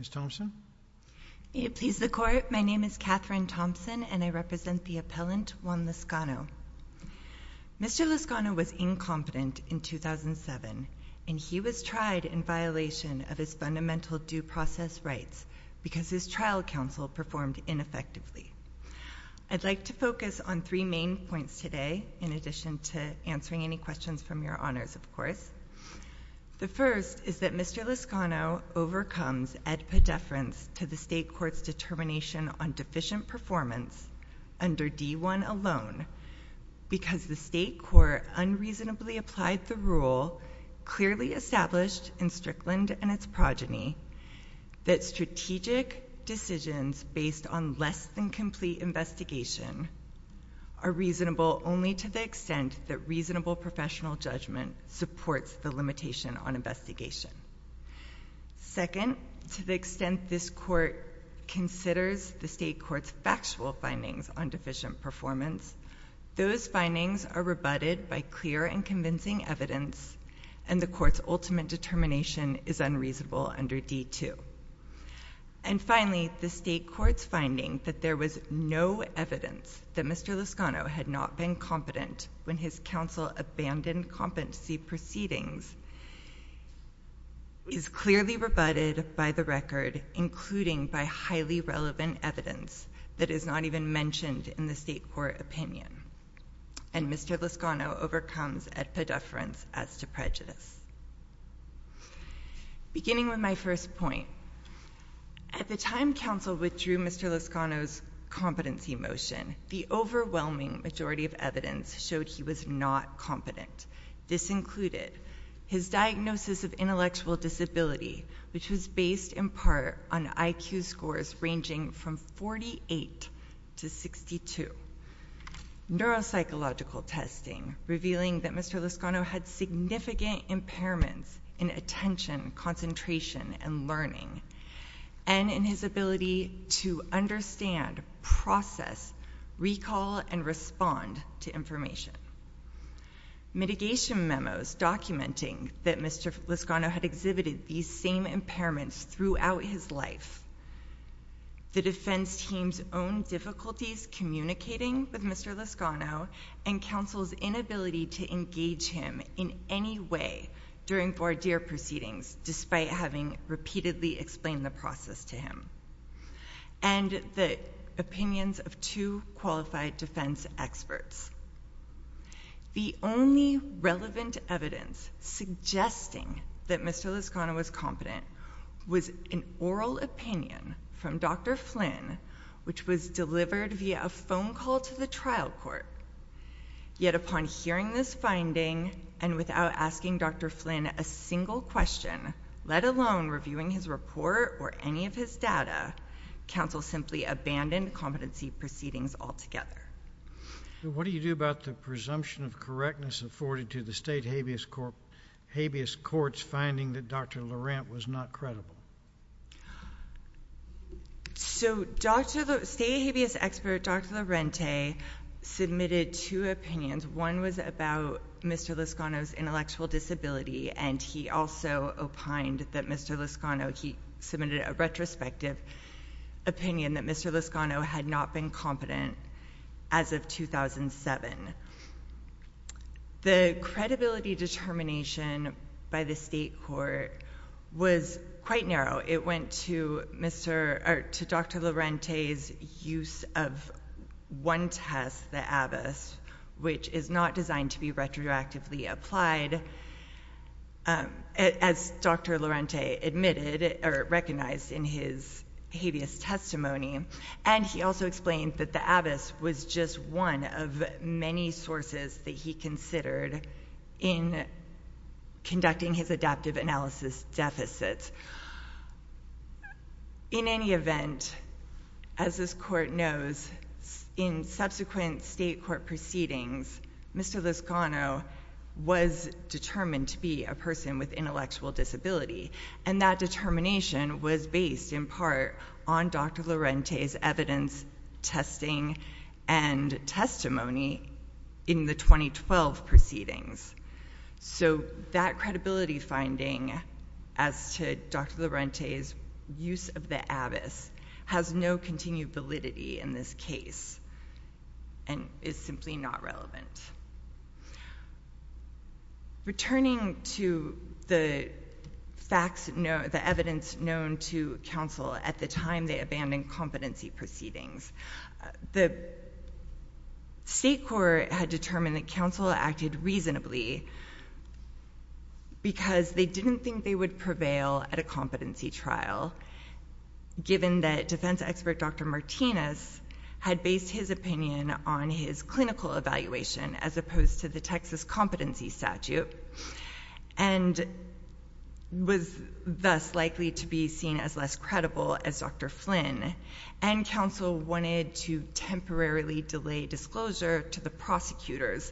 Ms. Thompson? May it please the Court, my name is Catherine Thompson, and I represent the appellant, Juan Lascano. Mr. Lascano was incompetent in 2007, and he was tried in violation of his fundamental due process rights because his trial counsel performed ineffectively. I'd like to focus on three main points today, in addition to answering any questions from your honors, of course. The first is that Mr. Lascano overcomes ad pedeference to the state court's determination on deficient performance under D-1 alone because the state court unreasonably applied the rule clearly established in Strickland and its progeny that strategic decisions based on less than complete investigation are reasonable only to the extent that reasonable professional judgment supports the limitation on investigation. Second, to the extent this court considers the state court's factual findings on deficient performance, those findings are rebutted by clear and convincing evidence, and the court's ultimate determination is unreasonable under D-2. And finally, the state court's finding that there was no evidence that Mr. Lascano had not been competent when his counsel abandoned competency proceedings is clearly rebutted by the record, including by highly relevant evidence that is not even mentioned in the state court opinion, and Mr. Lascano overcomes ad pedeference as to prejudice. Beginning with my first point, at the time counsel withdrew Mr. Lascano's competency motion, the overwhelming majority of evidence showed he was not competent. This included his diagnosis of intellectual disability, which was based in part on IQ scores ranging from 48 to 62, neuropsychological testing revealing that Mr. Lascano had significant impairments in attention, concentration, and learning, and in his ability to understand, process, recall, and respond to information. Mitigation memos documenting that Mr. Lascano had exhibited these same impairments throughout his life, the defense team's own difficulties communicating with Mr. Lascano, and counsel's inability to engage him in any way during voir dire proceedings despite having repeatedly explained the process to him, and the opinions of two qualified defense experts. The only relevant evidence suggesting that Mr. Lascano was competent was an oral opinion from Dr. Flynn, which was delivered via a phone call to the trial court. Yet upon hearing this finding, and without asking Dr. Flynn a single question, let alone reviewing his report or any of his data, counsel simply abandoned competency proceedings altogether. What do you do about the presumption of correctness afforded to the state habeas courts finding that Dr. Lorente was not credible? So state habeas expert Dr. Lorente submitted two opinions. One was about Mr. Lascano's intellectual disability, and he also opined that Mr. Lascano, he submitted a retrospective opinion that Mr. Lascano had not been competent as of 2007. The credibility determination by the state court was quite narrow. It went to Dr. Lorente's use of one test, the Abbess, which is not designed to be retroactively applied, as Dr. Lorente admitted or recognized in his habeas testimony, and he also explained that the Abbess was just one of many sources that he considered in conducting his adaptive analysis deficits. In any event, as this court knows, in subsequent state court proceedings, Mr. Lascano was determined to be a person with intellectual disability, and that determination was based in part on Dr. Lorente's evidence, testing, and testimony in the 2012 proceedings. So that credibility finding as to Dr. Lorente's use of the Abbess has no continued validity in this case and is simply not relevant. Returning to the facts, the evidence known to counsel at the time they abandoned competency proceedings, the state court had determined that counsel acted reasonably because they didn't think they would prevail at a competency trial, given that defense expert Dr. Martinez had based his opinion on his clinical evaluation as opposed to the Texas competency statute and was thus likely to be seen as less credible as Dr. Flynn, and counsel wanted to temporarily delay disclosure to the prosecutors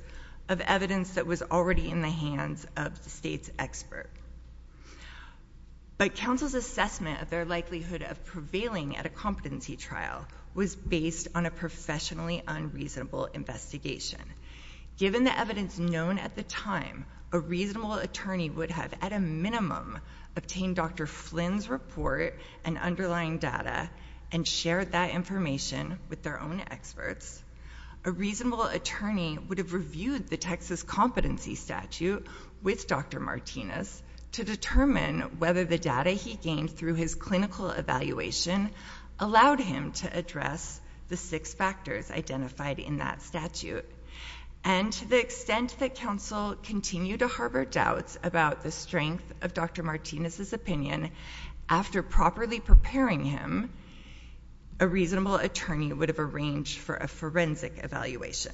of evidence that was already in the hands of the state's expert. But counsel's assessment of their likelihood of prevailing at a competency trial was based on a professionally unreasonable investigation. Given the evidence known at the time, a reasonable attorney would have at a minimum obtained Dr. Flynn's report and underlying data and shared that information with their own experts. A reasonable attorney would have reviewed the Texas competency statute with Dr. Martinez to determine whether the data he gained through his clinical evaluation allowed him to address the six factors identified in that statute. And to the extent that counsel continued to harbor doubts about the strength of Dr. Martinez's forensic evaluation.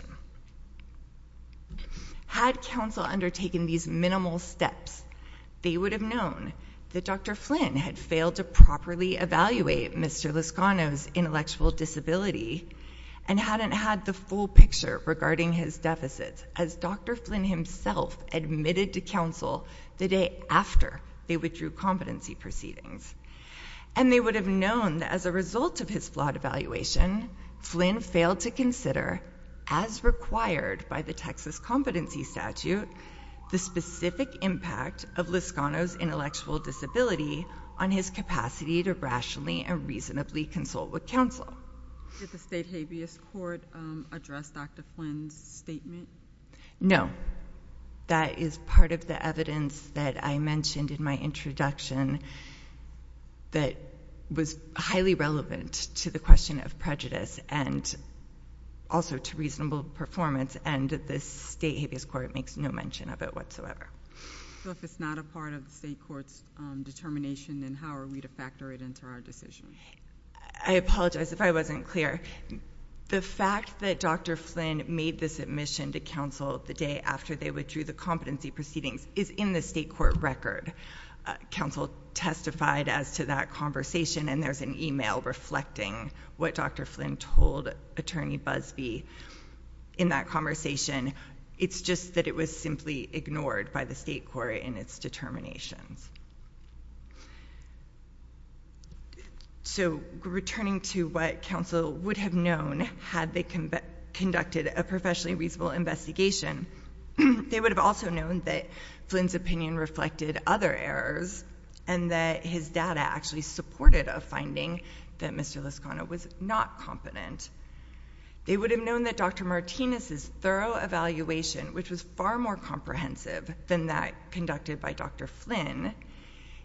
Had counsel undertaken these minimal steps, they would have known that Dr. Flynn had failed to properly evaluate Mr. Lascano's intellectual disability and hadn't had the full picture regarding his deficits as Dr. Flynn himself admitted to counsel the day after they withdrew competency proceedings. And they would have known that as a result of his flawed evaluation, Flynn failed to consider, as required by the Texas competency statute, the specific impact of Lascano's intellectual disability on his capacity to rationally and reasonably consult with counsel. Did the state habeas court address Dr. Flynn's statement? No. However, that is part of the evidence that I mentioned in my introduction that was highly relevant to the question of prejudice and also to reasonable performance. And the state habeas court makes no mention of it whatsoever. So if it's not a part of the state court's determination, then how are we to factor it into our decision? I apologize if I wasn't clear. The fact that Dr. Flynn made this admission to counsel the day after they withdrew the competency proceedings is in the state court record. Counsel testified as to that conversation, and there's an email reflecting what Dr. Flynn told Attorney Busbee in that conversation. It's just that it was simply ignored by the state court in its determinations. So, returning to what counsel would have known had they conducted a professionally reasonable investigation, they would have also known that Flynn's opinion reflected other errors and that his data actually supported a finding that Mr. Lascano was not competent. They would have known that Dr. Martinez's thorough evaluation, which was far more comprehensive than that conducted by Dr. Flynn,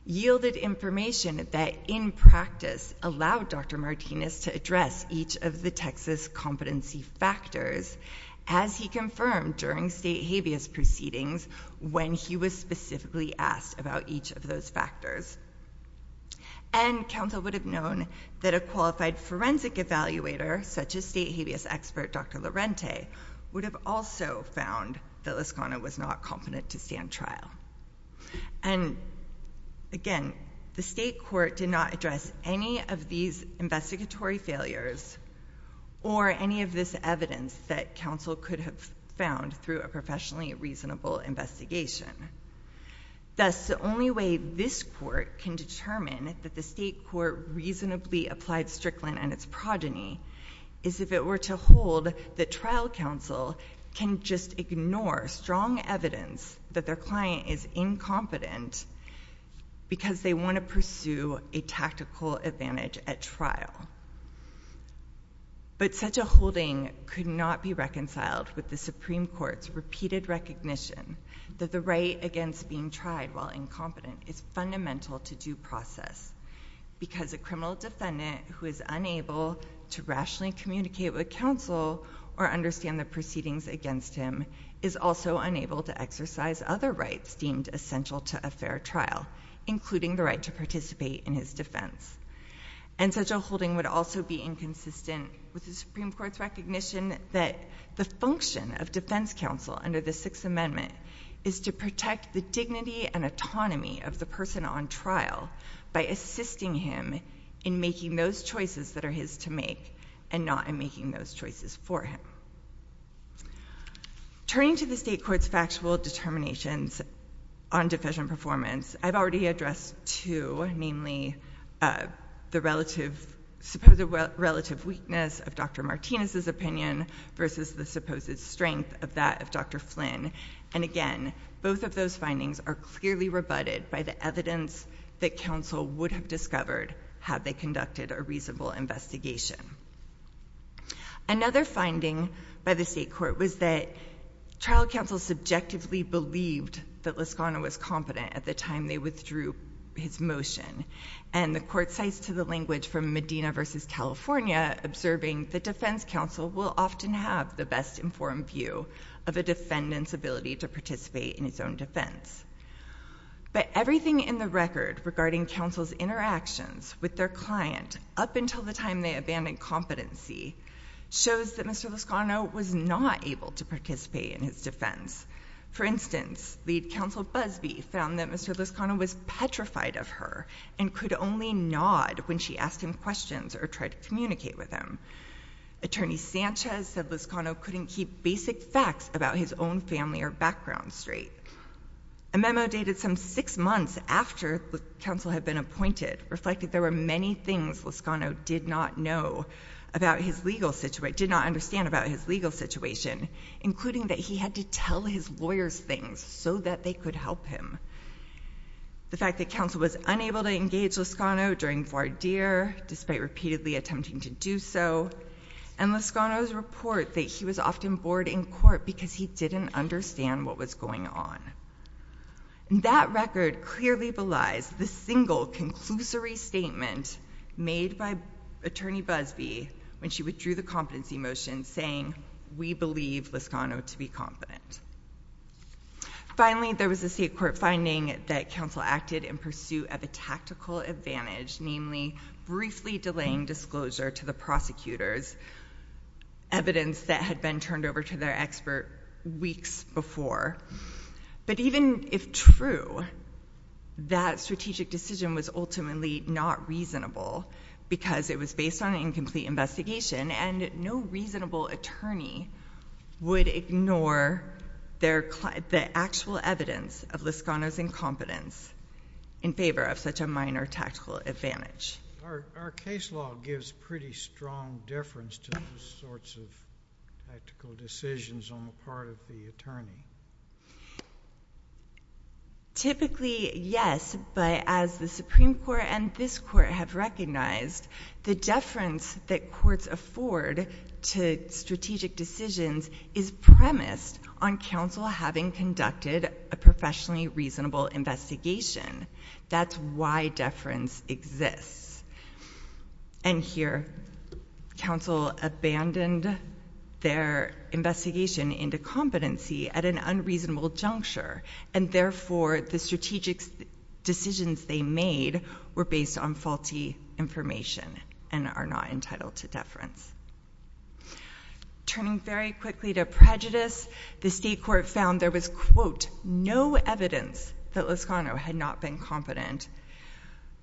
yielded information that in practice allowed Dr. Martinez to address each of the Texas competency factors as he confirmed during state habeas proceedings when he was specifically asked about each of those factors. And counsel would have known that a qualified forensic evaluator, such as state habeas expert Dr. Lorente, would have also found that Lascano was not competent to stand trial. And again, the state court did not address any of these investigatory failures or any of this evidence that counsel could have found through a professionally reasonable investigation. Thus, the only way this court can determine that the state court reasonably applied Strickland and its progeny is if it were to hold that trial counsel can just ignore strong evidence that their client is incompetent because they want to pursue a tactical advantage at trial. But such a holding could not be reconciled with the Supreme Court's repeated recognition that the right against being tried while incompetent is fundamental to due process because a criminal defendant who is unable to rationally communicate with counsel or understand the proceedings against him is also unable to exercise other rights deemed essential to a fair trial, including the right to participate in his defense. And such a holding would also be inconsistent with the Supreme Court's recognition that the function of defense counsel under the Sixth Amendment is to protect the dignity and autonomy of the person on trial by assisting him in making those choices that are his to make and not in making those choices for him. Turning to the state court's factual determinations on defection performance, I've already addressed two, namely the relative, supposed relative weakness of Dr. Martinez's opinion versus the supposed strength of that of Dr. Flynn. And again, both of those findings are clearly rebutted by the evidence that counsel would have discovered had they conducted a reasonable investigation. Another finding by the state court was that trial counsel subjectively believed that Lascano was competent at the time they withdrew his motion. And the court cites to the language from Medina versus California, observing that defense counsel will often have the best informed view of a defendant's ability to participate in his own defense. But everything in the record regarding counsel's interactions with their client up until the time they abandoned competency shows that Mr. Lascano was not able to participate in his defense. For instance, lead counsel Busbee found that Mr. Lascano was petrified of her and could only nod when she asked him questions or tried to communicate with him. Attorney Sanchez said Lascano couldn't keep basic facts about his own family or background straight. A memo dated some six months after counsel had been appointed reflected there were many things Lascano did not know about his legal situation, did not understand about his legal situation, including that he had to tell his lawyers things so that they could help him. The fact that counsel was unable to engage Lascano during voir dire, despite repeatedly attempting to do so, and Lascano's report that he was often bored in court because he didn't understand what was going on. That record clearly belies the single conclusory statement made by attorney Busbee when she withdrew the competency motion saying, we believe Lascano to be competent. Finally there was a state court finding that counsel acted in pursuit of a tactical advantage, namely briefly delaying disclosure to the prosecutors, evidence that had been turned over to their expert weeks before. But even if true, that strategic decision was ultimately not reasonable because it was based on an incomplete investigation and no reasonable attorney would ignore the actual evidence of Lascano's incompetence in favor of such a minor tactical advantage. Our case law gives pretty strong deference to those sorts of tactical decisions on the part of the attorney. Typically yes, but as the Supreme Court and this court have recognized, the deference that courts afford to strategic decisions is premised on counsel having conducted a professionally reasonable investigation. That's why deference exists. And here counsel abandoned their investigation into competency at an unreasonable juncture and therefore the strategic decisions they made were based on faulty information and are not entitled to deference. Turning very quickly to prejudice, the state court found there was quote, no evidence that Lascano had not been competent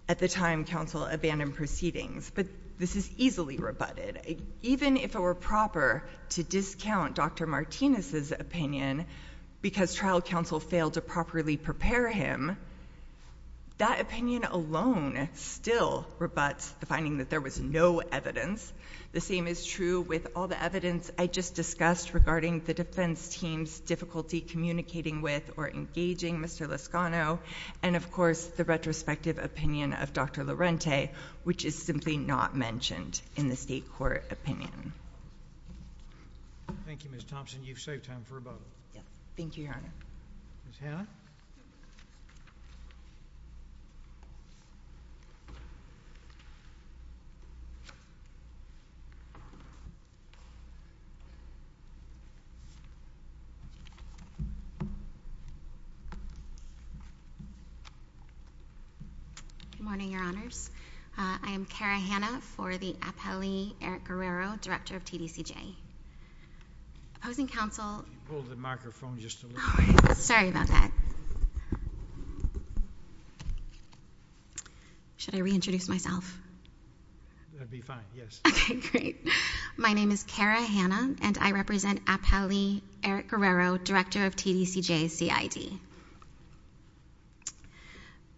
at the time counsel abandoned proceedings, but this is easily rebutted. Even if it were proper to discount Dr. Martinez's opinion because trial counsel failed to properly prepare him, that opinion alone still rebuts the finding that there was no evidence. The same is true with all the evidence I just discussed regarding the defense team's difficulty communicating with or engaging Mr. Lascano and of course the retrospective opinion of Dr. Lorente, which is simply not mentioned in the state court opinion. Thank you, Ms. Thompson, you've saved time for about a minute. Thank you, Your Honor. Ms. Hanna. Good morning, Your Honors. I am Kara Hanna for the appellee Eric Guerrero, director of TDCJ. Opposing counsel. Pull the microphone just a little bit. Sorry about that. Should I reintroduce myself? That'd be fine, yes. Okay, great. My name is Kara Hanna and I represent appellee Eric Guerrero, director of TDCJ CID.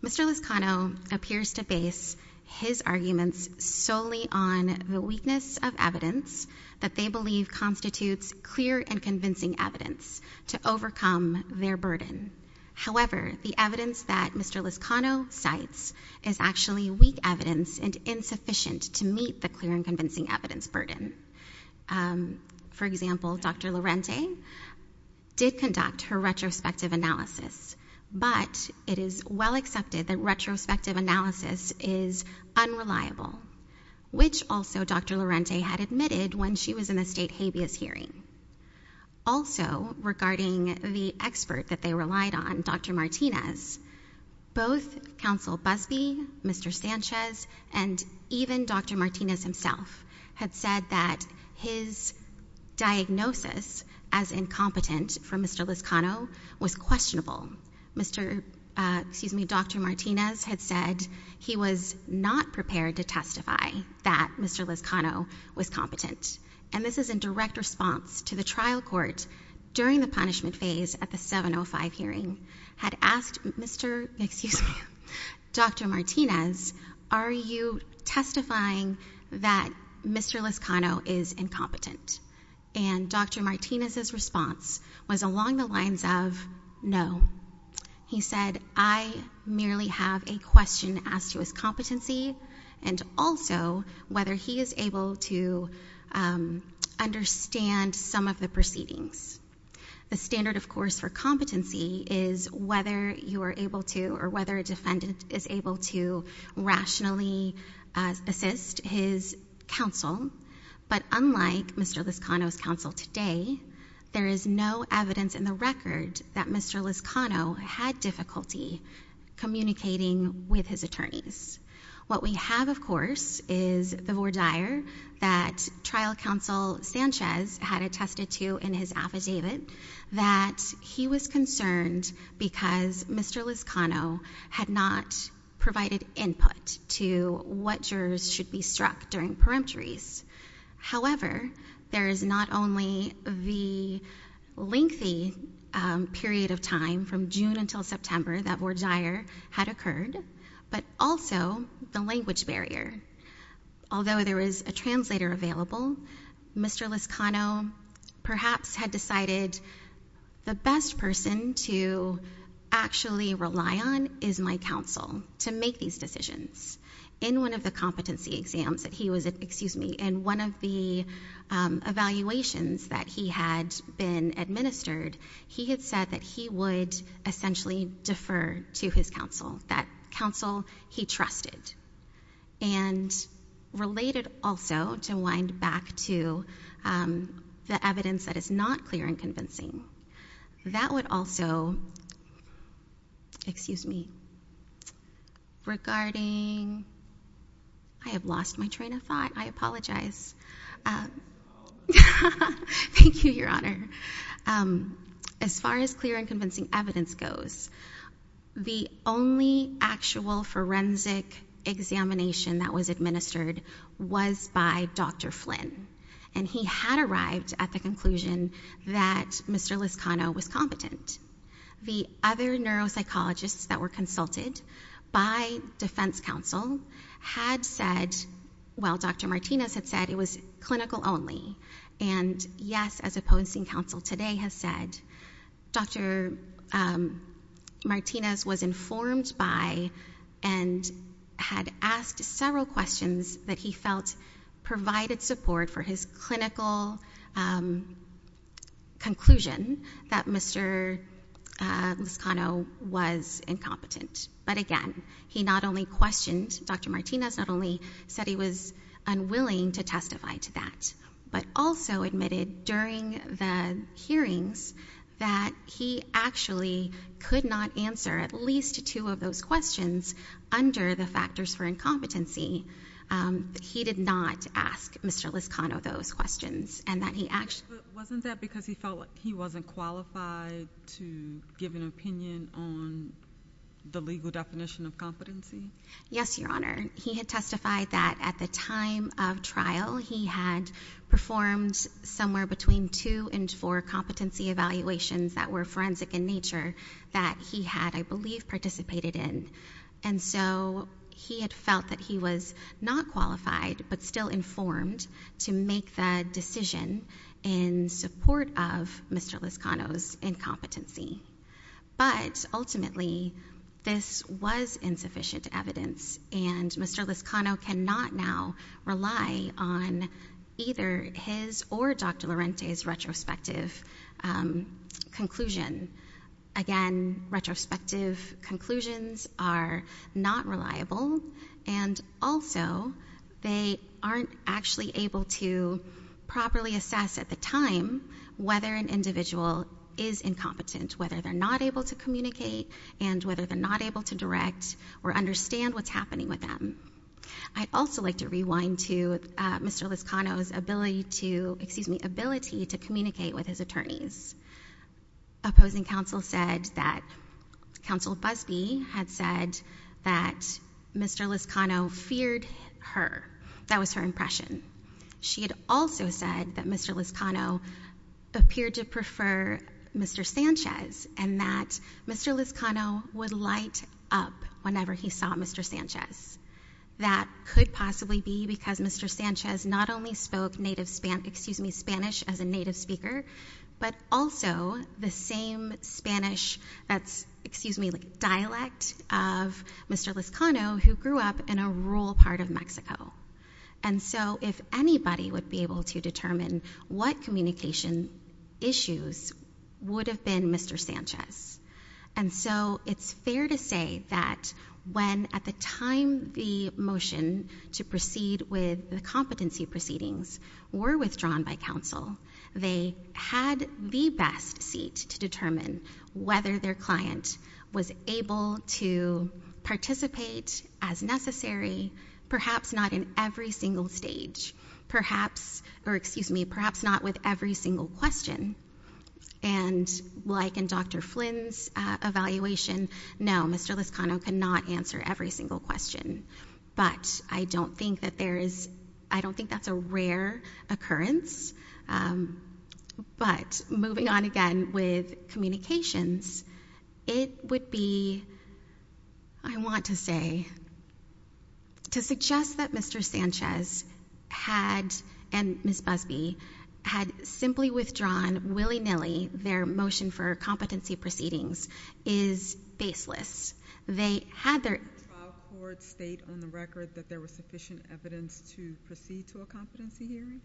Mr. Lascano appears to base his arguments solely on the weakness of evidence that they have to overcome their burden. However, the evidence that Mr. Lascano cites is actually weak evidence and insufficient to meet the clear and convincing evidence burden. For example, Dr. Lorente did conduct her retrospective analysis, but it is well accepted that retrospective analysis is unreliable, which also Dr. Lorente had admitted when she was in the state habeas hearing. Also, regarding the expert that they relied on, Dr. Martinez, both counsel Busbee, Mr. Sanchez, and even Dr. Martinez himself had said that his diagnosis as incompetent for Mr. Lascano was questionable. Mr.—excuse me, Dr. Martinez had said he was not prepared to testify that Mr. Lascano was competent. And this is in direct response to the trial court during the punishment phase at the 705 hearing had asked Mr.—excuse me, Dr. Martinez, are you testifying that Mr. Lascano is incompetent? And Dr. Martinez's response was along the lines of no. He said, I merely have a question as to his competency and also whether he is able to understand some of the proceedings. The standard, of course, for competency is whether you are able to or whether a defendant is able to rationally assist his counsel. But unlike Mr. Lascano's counsel today, there is no evidence in the record that Mr. Lascano had difficulty communicating with his attorneys. What we have, of course, is the voir dire that trial counsel Sanchez had attested to in his affidavit that he was concerned because Mr. Lascano had not provided input to what However, there is not only the lengthy period of time from June until September that voir dire had occurred, but also the language barrier. Although there is a translator available, Mr. Lascano perhaps had decided the best person to actually rely on is my counsel to make these decisions. In one of the competency exams that he was, excuse me, in one of the evaluations that he had been administered, he had said that he would essentially defer to his counsel, that counsel he trusted. And related also, to wind back to the evidence that is not clear and convincing, that would also, excuse me, regarding, I have lost my train of thought. I apologize. Thank you, Your Honor. As far as clear and convincing evidence goes, the only actual forensic examination that was administered was by Dr. Flynn. And he had arrived at the conclusion that Mr. Lascano was competent. The other neuropsychologists that were consulted by defense counsel had said, well, Dr. Martinez had said it was clinical only. And, yes, as opposing counsel today has said, Dr. Martinez was informed by and had asked several questions that he felt provided support for his clinical conclusion that Mr. Lascano was incompetent. But, again, he not only questioned, Dr. Martinez not only said he was unwilling to testify to that, but also admitted during the hearings that he actually could not answer at least one to two of those questions under the factors for incompetency. He did not ask Mr. Lascano those questions. Wasn't that because he felt he wasn't qualified to give an opinion on the legal definition of competency? Yes, Your Honor. He had testified that at the time of trial he had performed somewhere between two and four competency evaluations that were forensic in nature that he had, I believe, participated in. And so he had felt that he was not qualified but still informed to make the decision in support of Mr. Lascano's incompetency. But, ultimately, this was insufficient evidence and Mr. Lascano cannot now rely on either his or Dr. Lorente's retrospective conclusion. Again, retrospective conclusions are not reliable. And, also, they aren't actually able to properly assess at the time whether an individual is incompetent, whether they're not able to communicate and whether they're not able to direct or understand what's happening with them. I'd also like to rewind to Mr. Lascano's ability to—excuse me, ability to communicate with his attorneys. Opposing counsel said that—Counsel Busbee had said that Mr. Lascano feared her. That was her impression. She had also said that Mr. Lascano appeared to prefer Mr. Sanchez and that Mr. Lascano would light up whenever he saw Mr. Sanchez. That could possibly be because Mr. Sanchez not only spoke native—excuse me, Spanish as a native speaker, but also the same Spanish—that's, excuse me, like dialect of Mr. Lascano who grew up in a rural part of Mexico. And so, if anybody would be able to determine what communication issues would have been Mr. Sanchez. And so, it's fair to say that when at the time the motion to proceed with the competency proceedings were withdrawn by counsel, they had the best seat to determine whether their client was able to participate as necessary, perhaps not in every single stage, perhaps—or excuse me, perhaps not with every single question. And like in Dr. Flynn's evaluation, no, Mr. Lascano cannot answer every single question. But I don't think that there is—I don't think that's a rare occurrence. But moving on again with communications, it would be, I want to say, to suggest that Mr. Willey-Nilley, their motion for competency proceedings is baseless. They had their— Did the trial court state on the record that there was sufficient evidence to proceed to a competency hearing?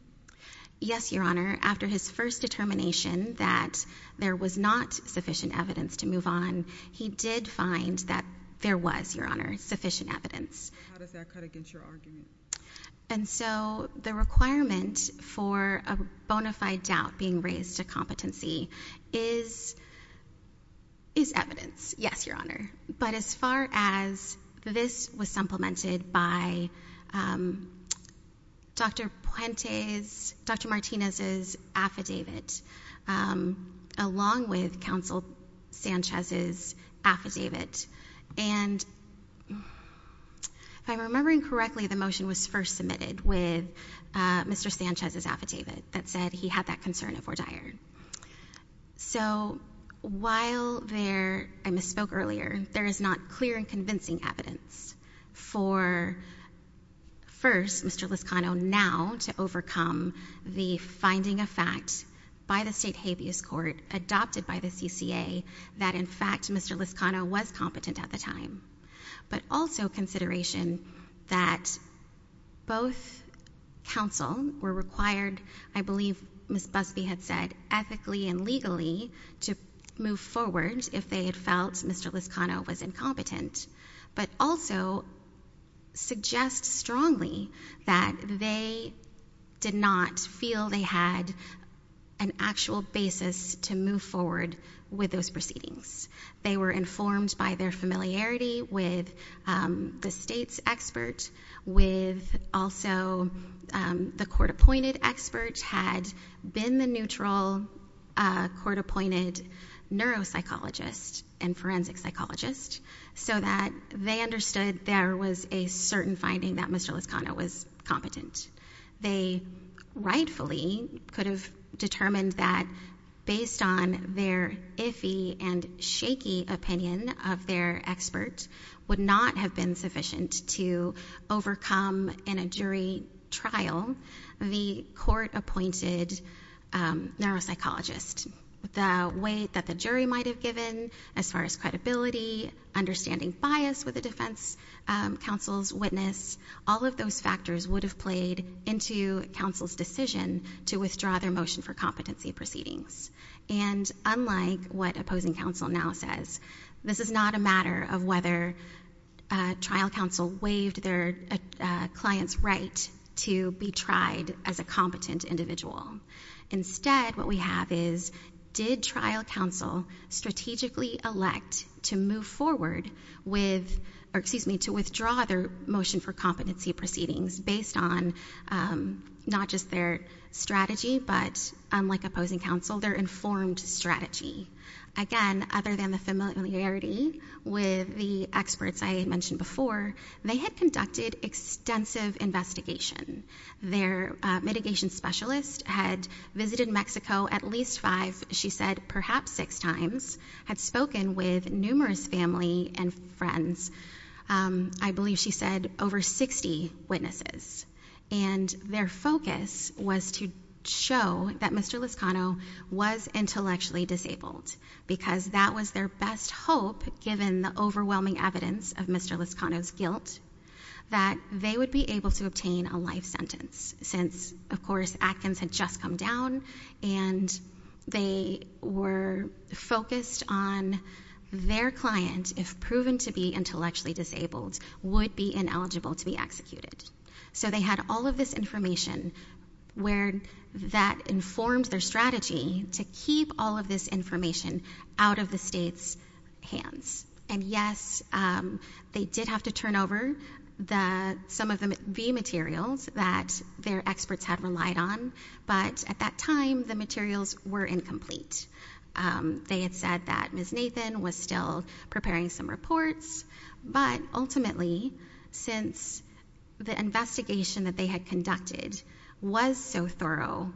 Yes, Your Honor. After his first determination that there was not sufficient evidence to move on, he did find that there was, Your Honor, sufficient evidence. How does that cut against your argument? And so the requirement for a bona fide doubt being raised to competency is evidence. Yes, Your Honor. But as far as this was supplemented by Dr. Puente's—Dr. Martinez's affidavit along with Counsel Sanchez's affidavit, and if I'm remembering correctly, the motion was first submitted with Mr. Sanchez's affidavit that said he had that concern of Ordeir. So while there—I misspoke earlier—there is not clear and convincing evidence for, first, Mr. Liscano now to overcome the finding of fact by the state habeas court adopted by the CCA that, in fact, Mr. Liscano was competent at the time, but also consideration that both counsel were required, I believe Ms. Busbee had said, ethically and legally to move forward if they had felt Mr. Liscano was incompetent. But also suggest strongly that they did not feel they had an actual basis to move forward with those proceedings. They were informed by their familiarity with the state's expert, with also the court-appointed expert had been the neutral court-appointed neuropsychologist and forensic psychologist so that they understood there was a certain finding that Mr. Liscano was competent. They rightfully could have determined that based on their iffy and shaky opinion of their expert would not have been sufficient to overcome in a jury trial the court-appointed neuropsychologist. The weight that the jury might have given as far as credibility, understanding bias with the defense counsel's witness, all of those factors would have played into counsel's decision to withdraw their motion for competency proceedings. And unlike what opposing counsel now says, this is not a matter of whether trial counsel waived their client's right to be tried as a competent individual. Instead, what we have is did trial counsel strategically elect to move forward with, or excuse me, to withdraw their motion for competency proceedings based on not just their strategy but unlike opposing counsel, their informed strategy. Again, other than the familiarity with the experts I mentioned before, they had conducted extensive investigation. Their mitigation specialist had visited Mexico at least five, she said perhaps six times, had spoken with numerous family and friends, I believe she said over 60 witnesses. And their focus was to show that Mr. Liscano was intellectually disabled because that was their best hope given the overwhelming evidence of Mr. Liscano's guilt that they would be able to obtain a life sentence since, of course, Atkins had just come down and they were focused on their client, if proven to be intellectually disabled, would be ineligible to be executed. So they had all of this information where that informed their strategy to keep all of this information out of the state's hands. And yes, they did have to turn over some of the materials that their experts had relied on, but at that time the materials were incomplete. They had said that Ms. Nathan was still preparing some reports, but ultimately since the investigation that they had conducted was so thorough,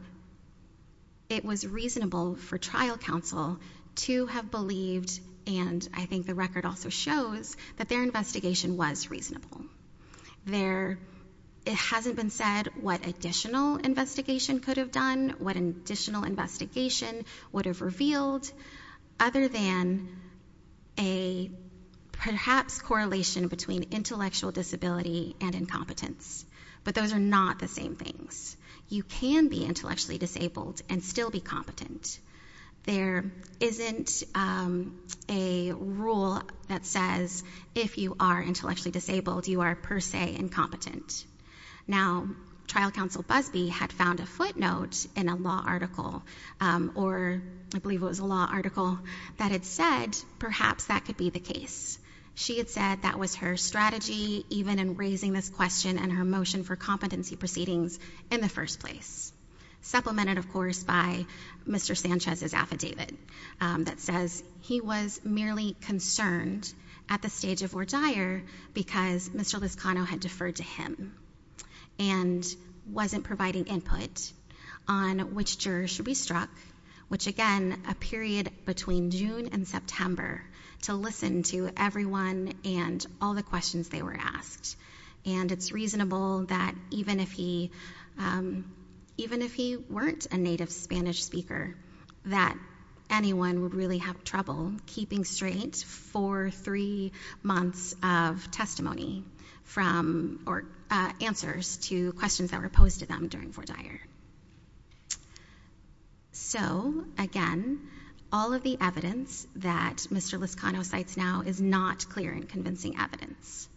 it was reasonable for trial counsel to have believed, and I think the record also shows, that their investigation was reasonable. It hasn't been said what additional investigation could have done, what additional investigation would have revealed, other than a perhaps correlation between intellectual disability and incompetence. But those are not the same things. You can be intellectually disabled and still be competent. There isn't a rule that says if you are intellectually disabled, you are per se incompetent. Now, trial counsel Busbee had found a footnote in a law article, or I believe it was a law article, that had said perhaps that could be the case. She had said that was her strategy, even in raising this question and her motion for competency proceedings in the first place. Supplemented, of course, by Mr. Sanchez's affidavit that says he was merely concerned at the stage of or dire because Mr. Lizcano had deferred to him and wasn't providing input on which jurors should be struck, which again, a period between June and September, to listen to everyone and all the questions they were asked. And it's reasonable that even if he weren't a native Spanish speaker, that anyone would really have trouble keeping straight four, three months of testimony from or answers to questions that were posed to them during for dire. So, again, all of the evidence that Mr. Lizcano cites now is not clear and convincing evidence.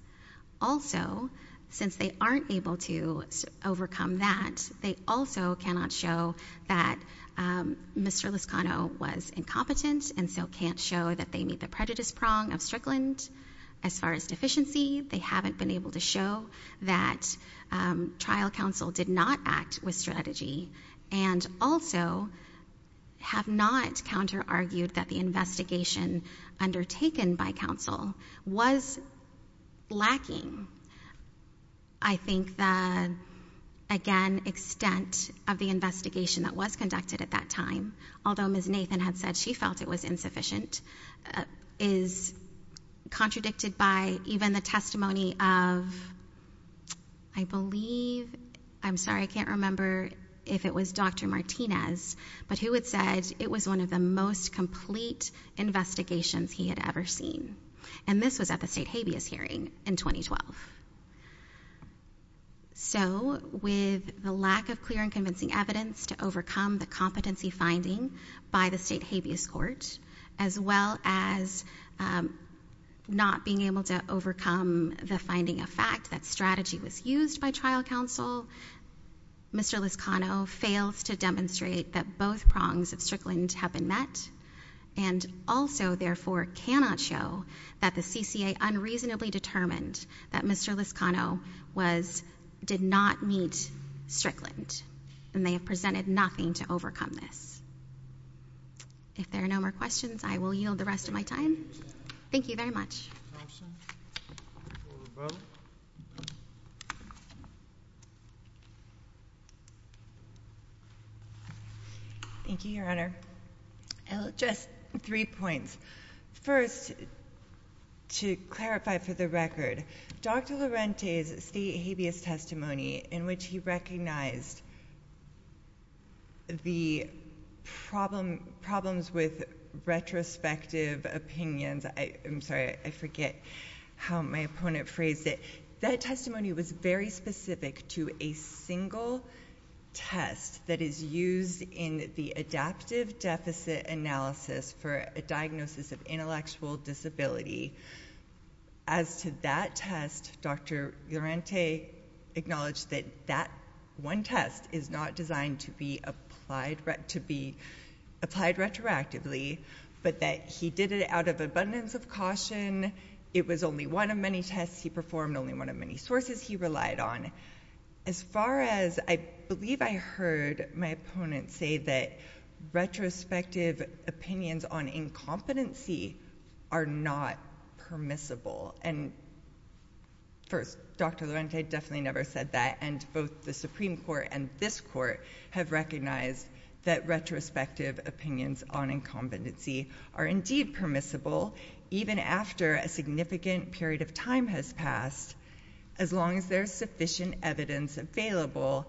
Also, since they aren't able to overcome that, they also cannot show that Mr. Lizcano was incompetent and so can't show that they meet the prejudice prong of Strickland. As far as deficiency, they haven't been able to show that trial counsel did not act with strategy and also have not counter-argued that the investigation undertaken by counsel was lacking, I think, the, again, extent of the investigation that was conducted at that time, although Ms. Nathan had said she felt it was insufficient, is contradicted by even the testimony of, I believe, I'm sorry, I can't remember if it was Dr. Martinez, but who had said it was one of the most complete investigations he had ever seen. And this was at the state habeas hearing in 2012. So, with the lack of clear and convincing evidence to overcome the competency finding by the state habeas court, as well as not being able to overcome the finding of fact that strategy was used by trial counsel, Mr. Lizcano fails to demonstrate that both prongs of Strickland have been met and also, therefore, cannot show that the CCA unreasonably determined that Mr. Lizcano was, did not meet Strickland. And they have presented nothing to overcome this. If there are no more questions, I will yield the rest of my time. Thank you very much. Thank you, Your Honor. Just three points. First, to clarify for the record, Dr. Lorente's state habeas testimony in which he recognized the problems with retrospective opinions, I'm sorry, I forget how my opponent phrased it, that testimony was very specific to a single test that is used in the adaptive deficit analysis for a diagnosis of intellectual disability. As to that test, Dr. Lorente acknowledged that that one test is not designed to be applied retroactively, but that he did it out of abundance of caution. It was only one of many tests he performed, only one of many sources he relied on. As far as, I believe I heard my opponent say that retrospective opinions on incompetency are not permissible, and first, Dr. Lorente definitely never said that, and both the Supreme Court and this Court have recognized that retrospective opinions on incompetency are indeed permissible, even after a significant period of time has passed, as long as there is sufficient evidence available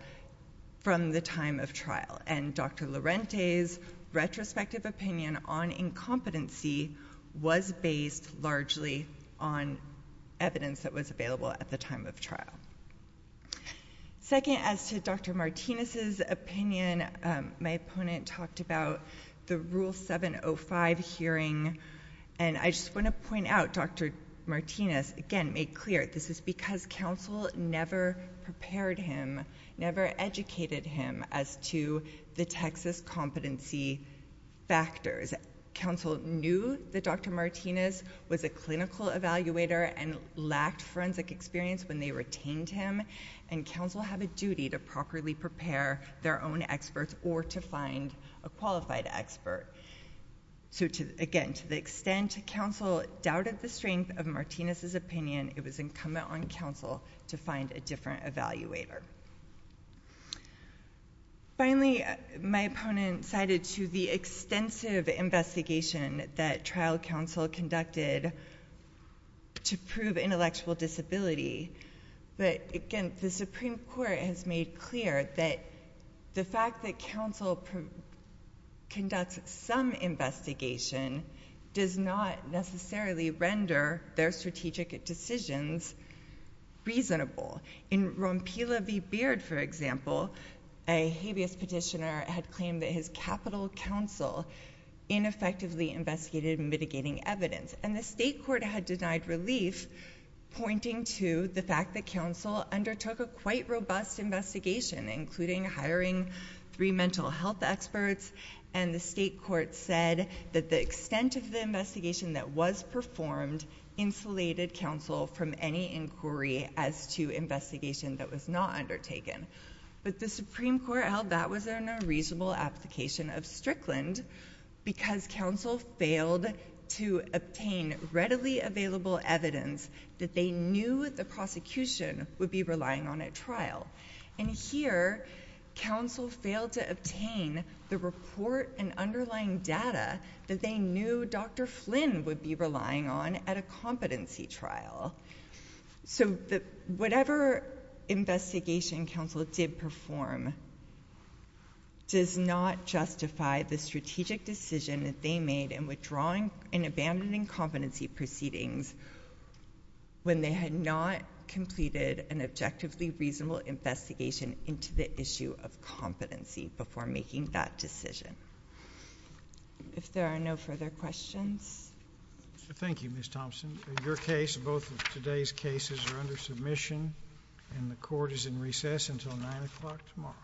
from the time of trial, and Dr. Lorente's retrospective opinion on incompetency was based largely on evidence that was available at the time of trial. Second, as to Dr. Martinez's opinion, my opponent talked about the Rule 705 hearing, and I just want to say that his counsel never prepared him, never educated him as to the Texas competency factors. Counsel knew that Dr. Martinez was a clinical evaluator and lacked forensic experience when they retained him, and counsel have a duty to properly prepare their own experts or to find a qualified expert. So, again, to the extent counsel doubted the strength of Martinez's opinion, it was incumbent on counsel to find a different evaluator. Finally, my opponent cited to the extensive investigation that trial counsel conducted to prove intellectual disability, but, again, the Supreme Court has made clear that the fact that counsel conducts some investigation does not necessarily render their strategic decisions reasonable. In Rompila v. Beard, for example, a habeas petitioner had claimed that his capital counsel ineffectively investigated mitigating evidence, and the state court had denied relief, pointing to the fact that counsel undertook a quite robust investigation, including hiring three mental health experts, and the state court said that the extent of the investigation that was performed insulated counsel from any inquiry as to investigation that was not undertaken. But the Supreme Court held that was a reasonable application of Strickland because counsel failed to obtain readily available evidence that they knew the prosecution would be relying on at trial. And here, counsel failed to obtain the report and underlying data that they knew Dr. Flynn would be relying on at a competency trial. So whatever investigation counsel did perform does not justify the strategic decision that they made in withdrawing and abandoning competency proceedings when they had not completed an objectively reasonable investigation into the issue of competency before making that decision. If there are no further questions. MR. GARRETT. Thank you, Ms. Thompson. In your case, both of today's cases are under submission, and the Court is in recess until 9 o'clock tomorrow.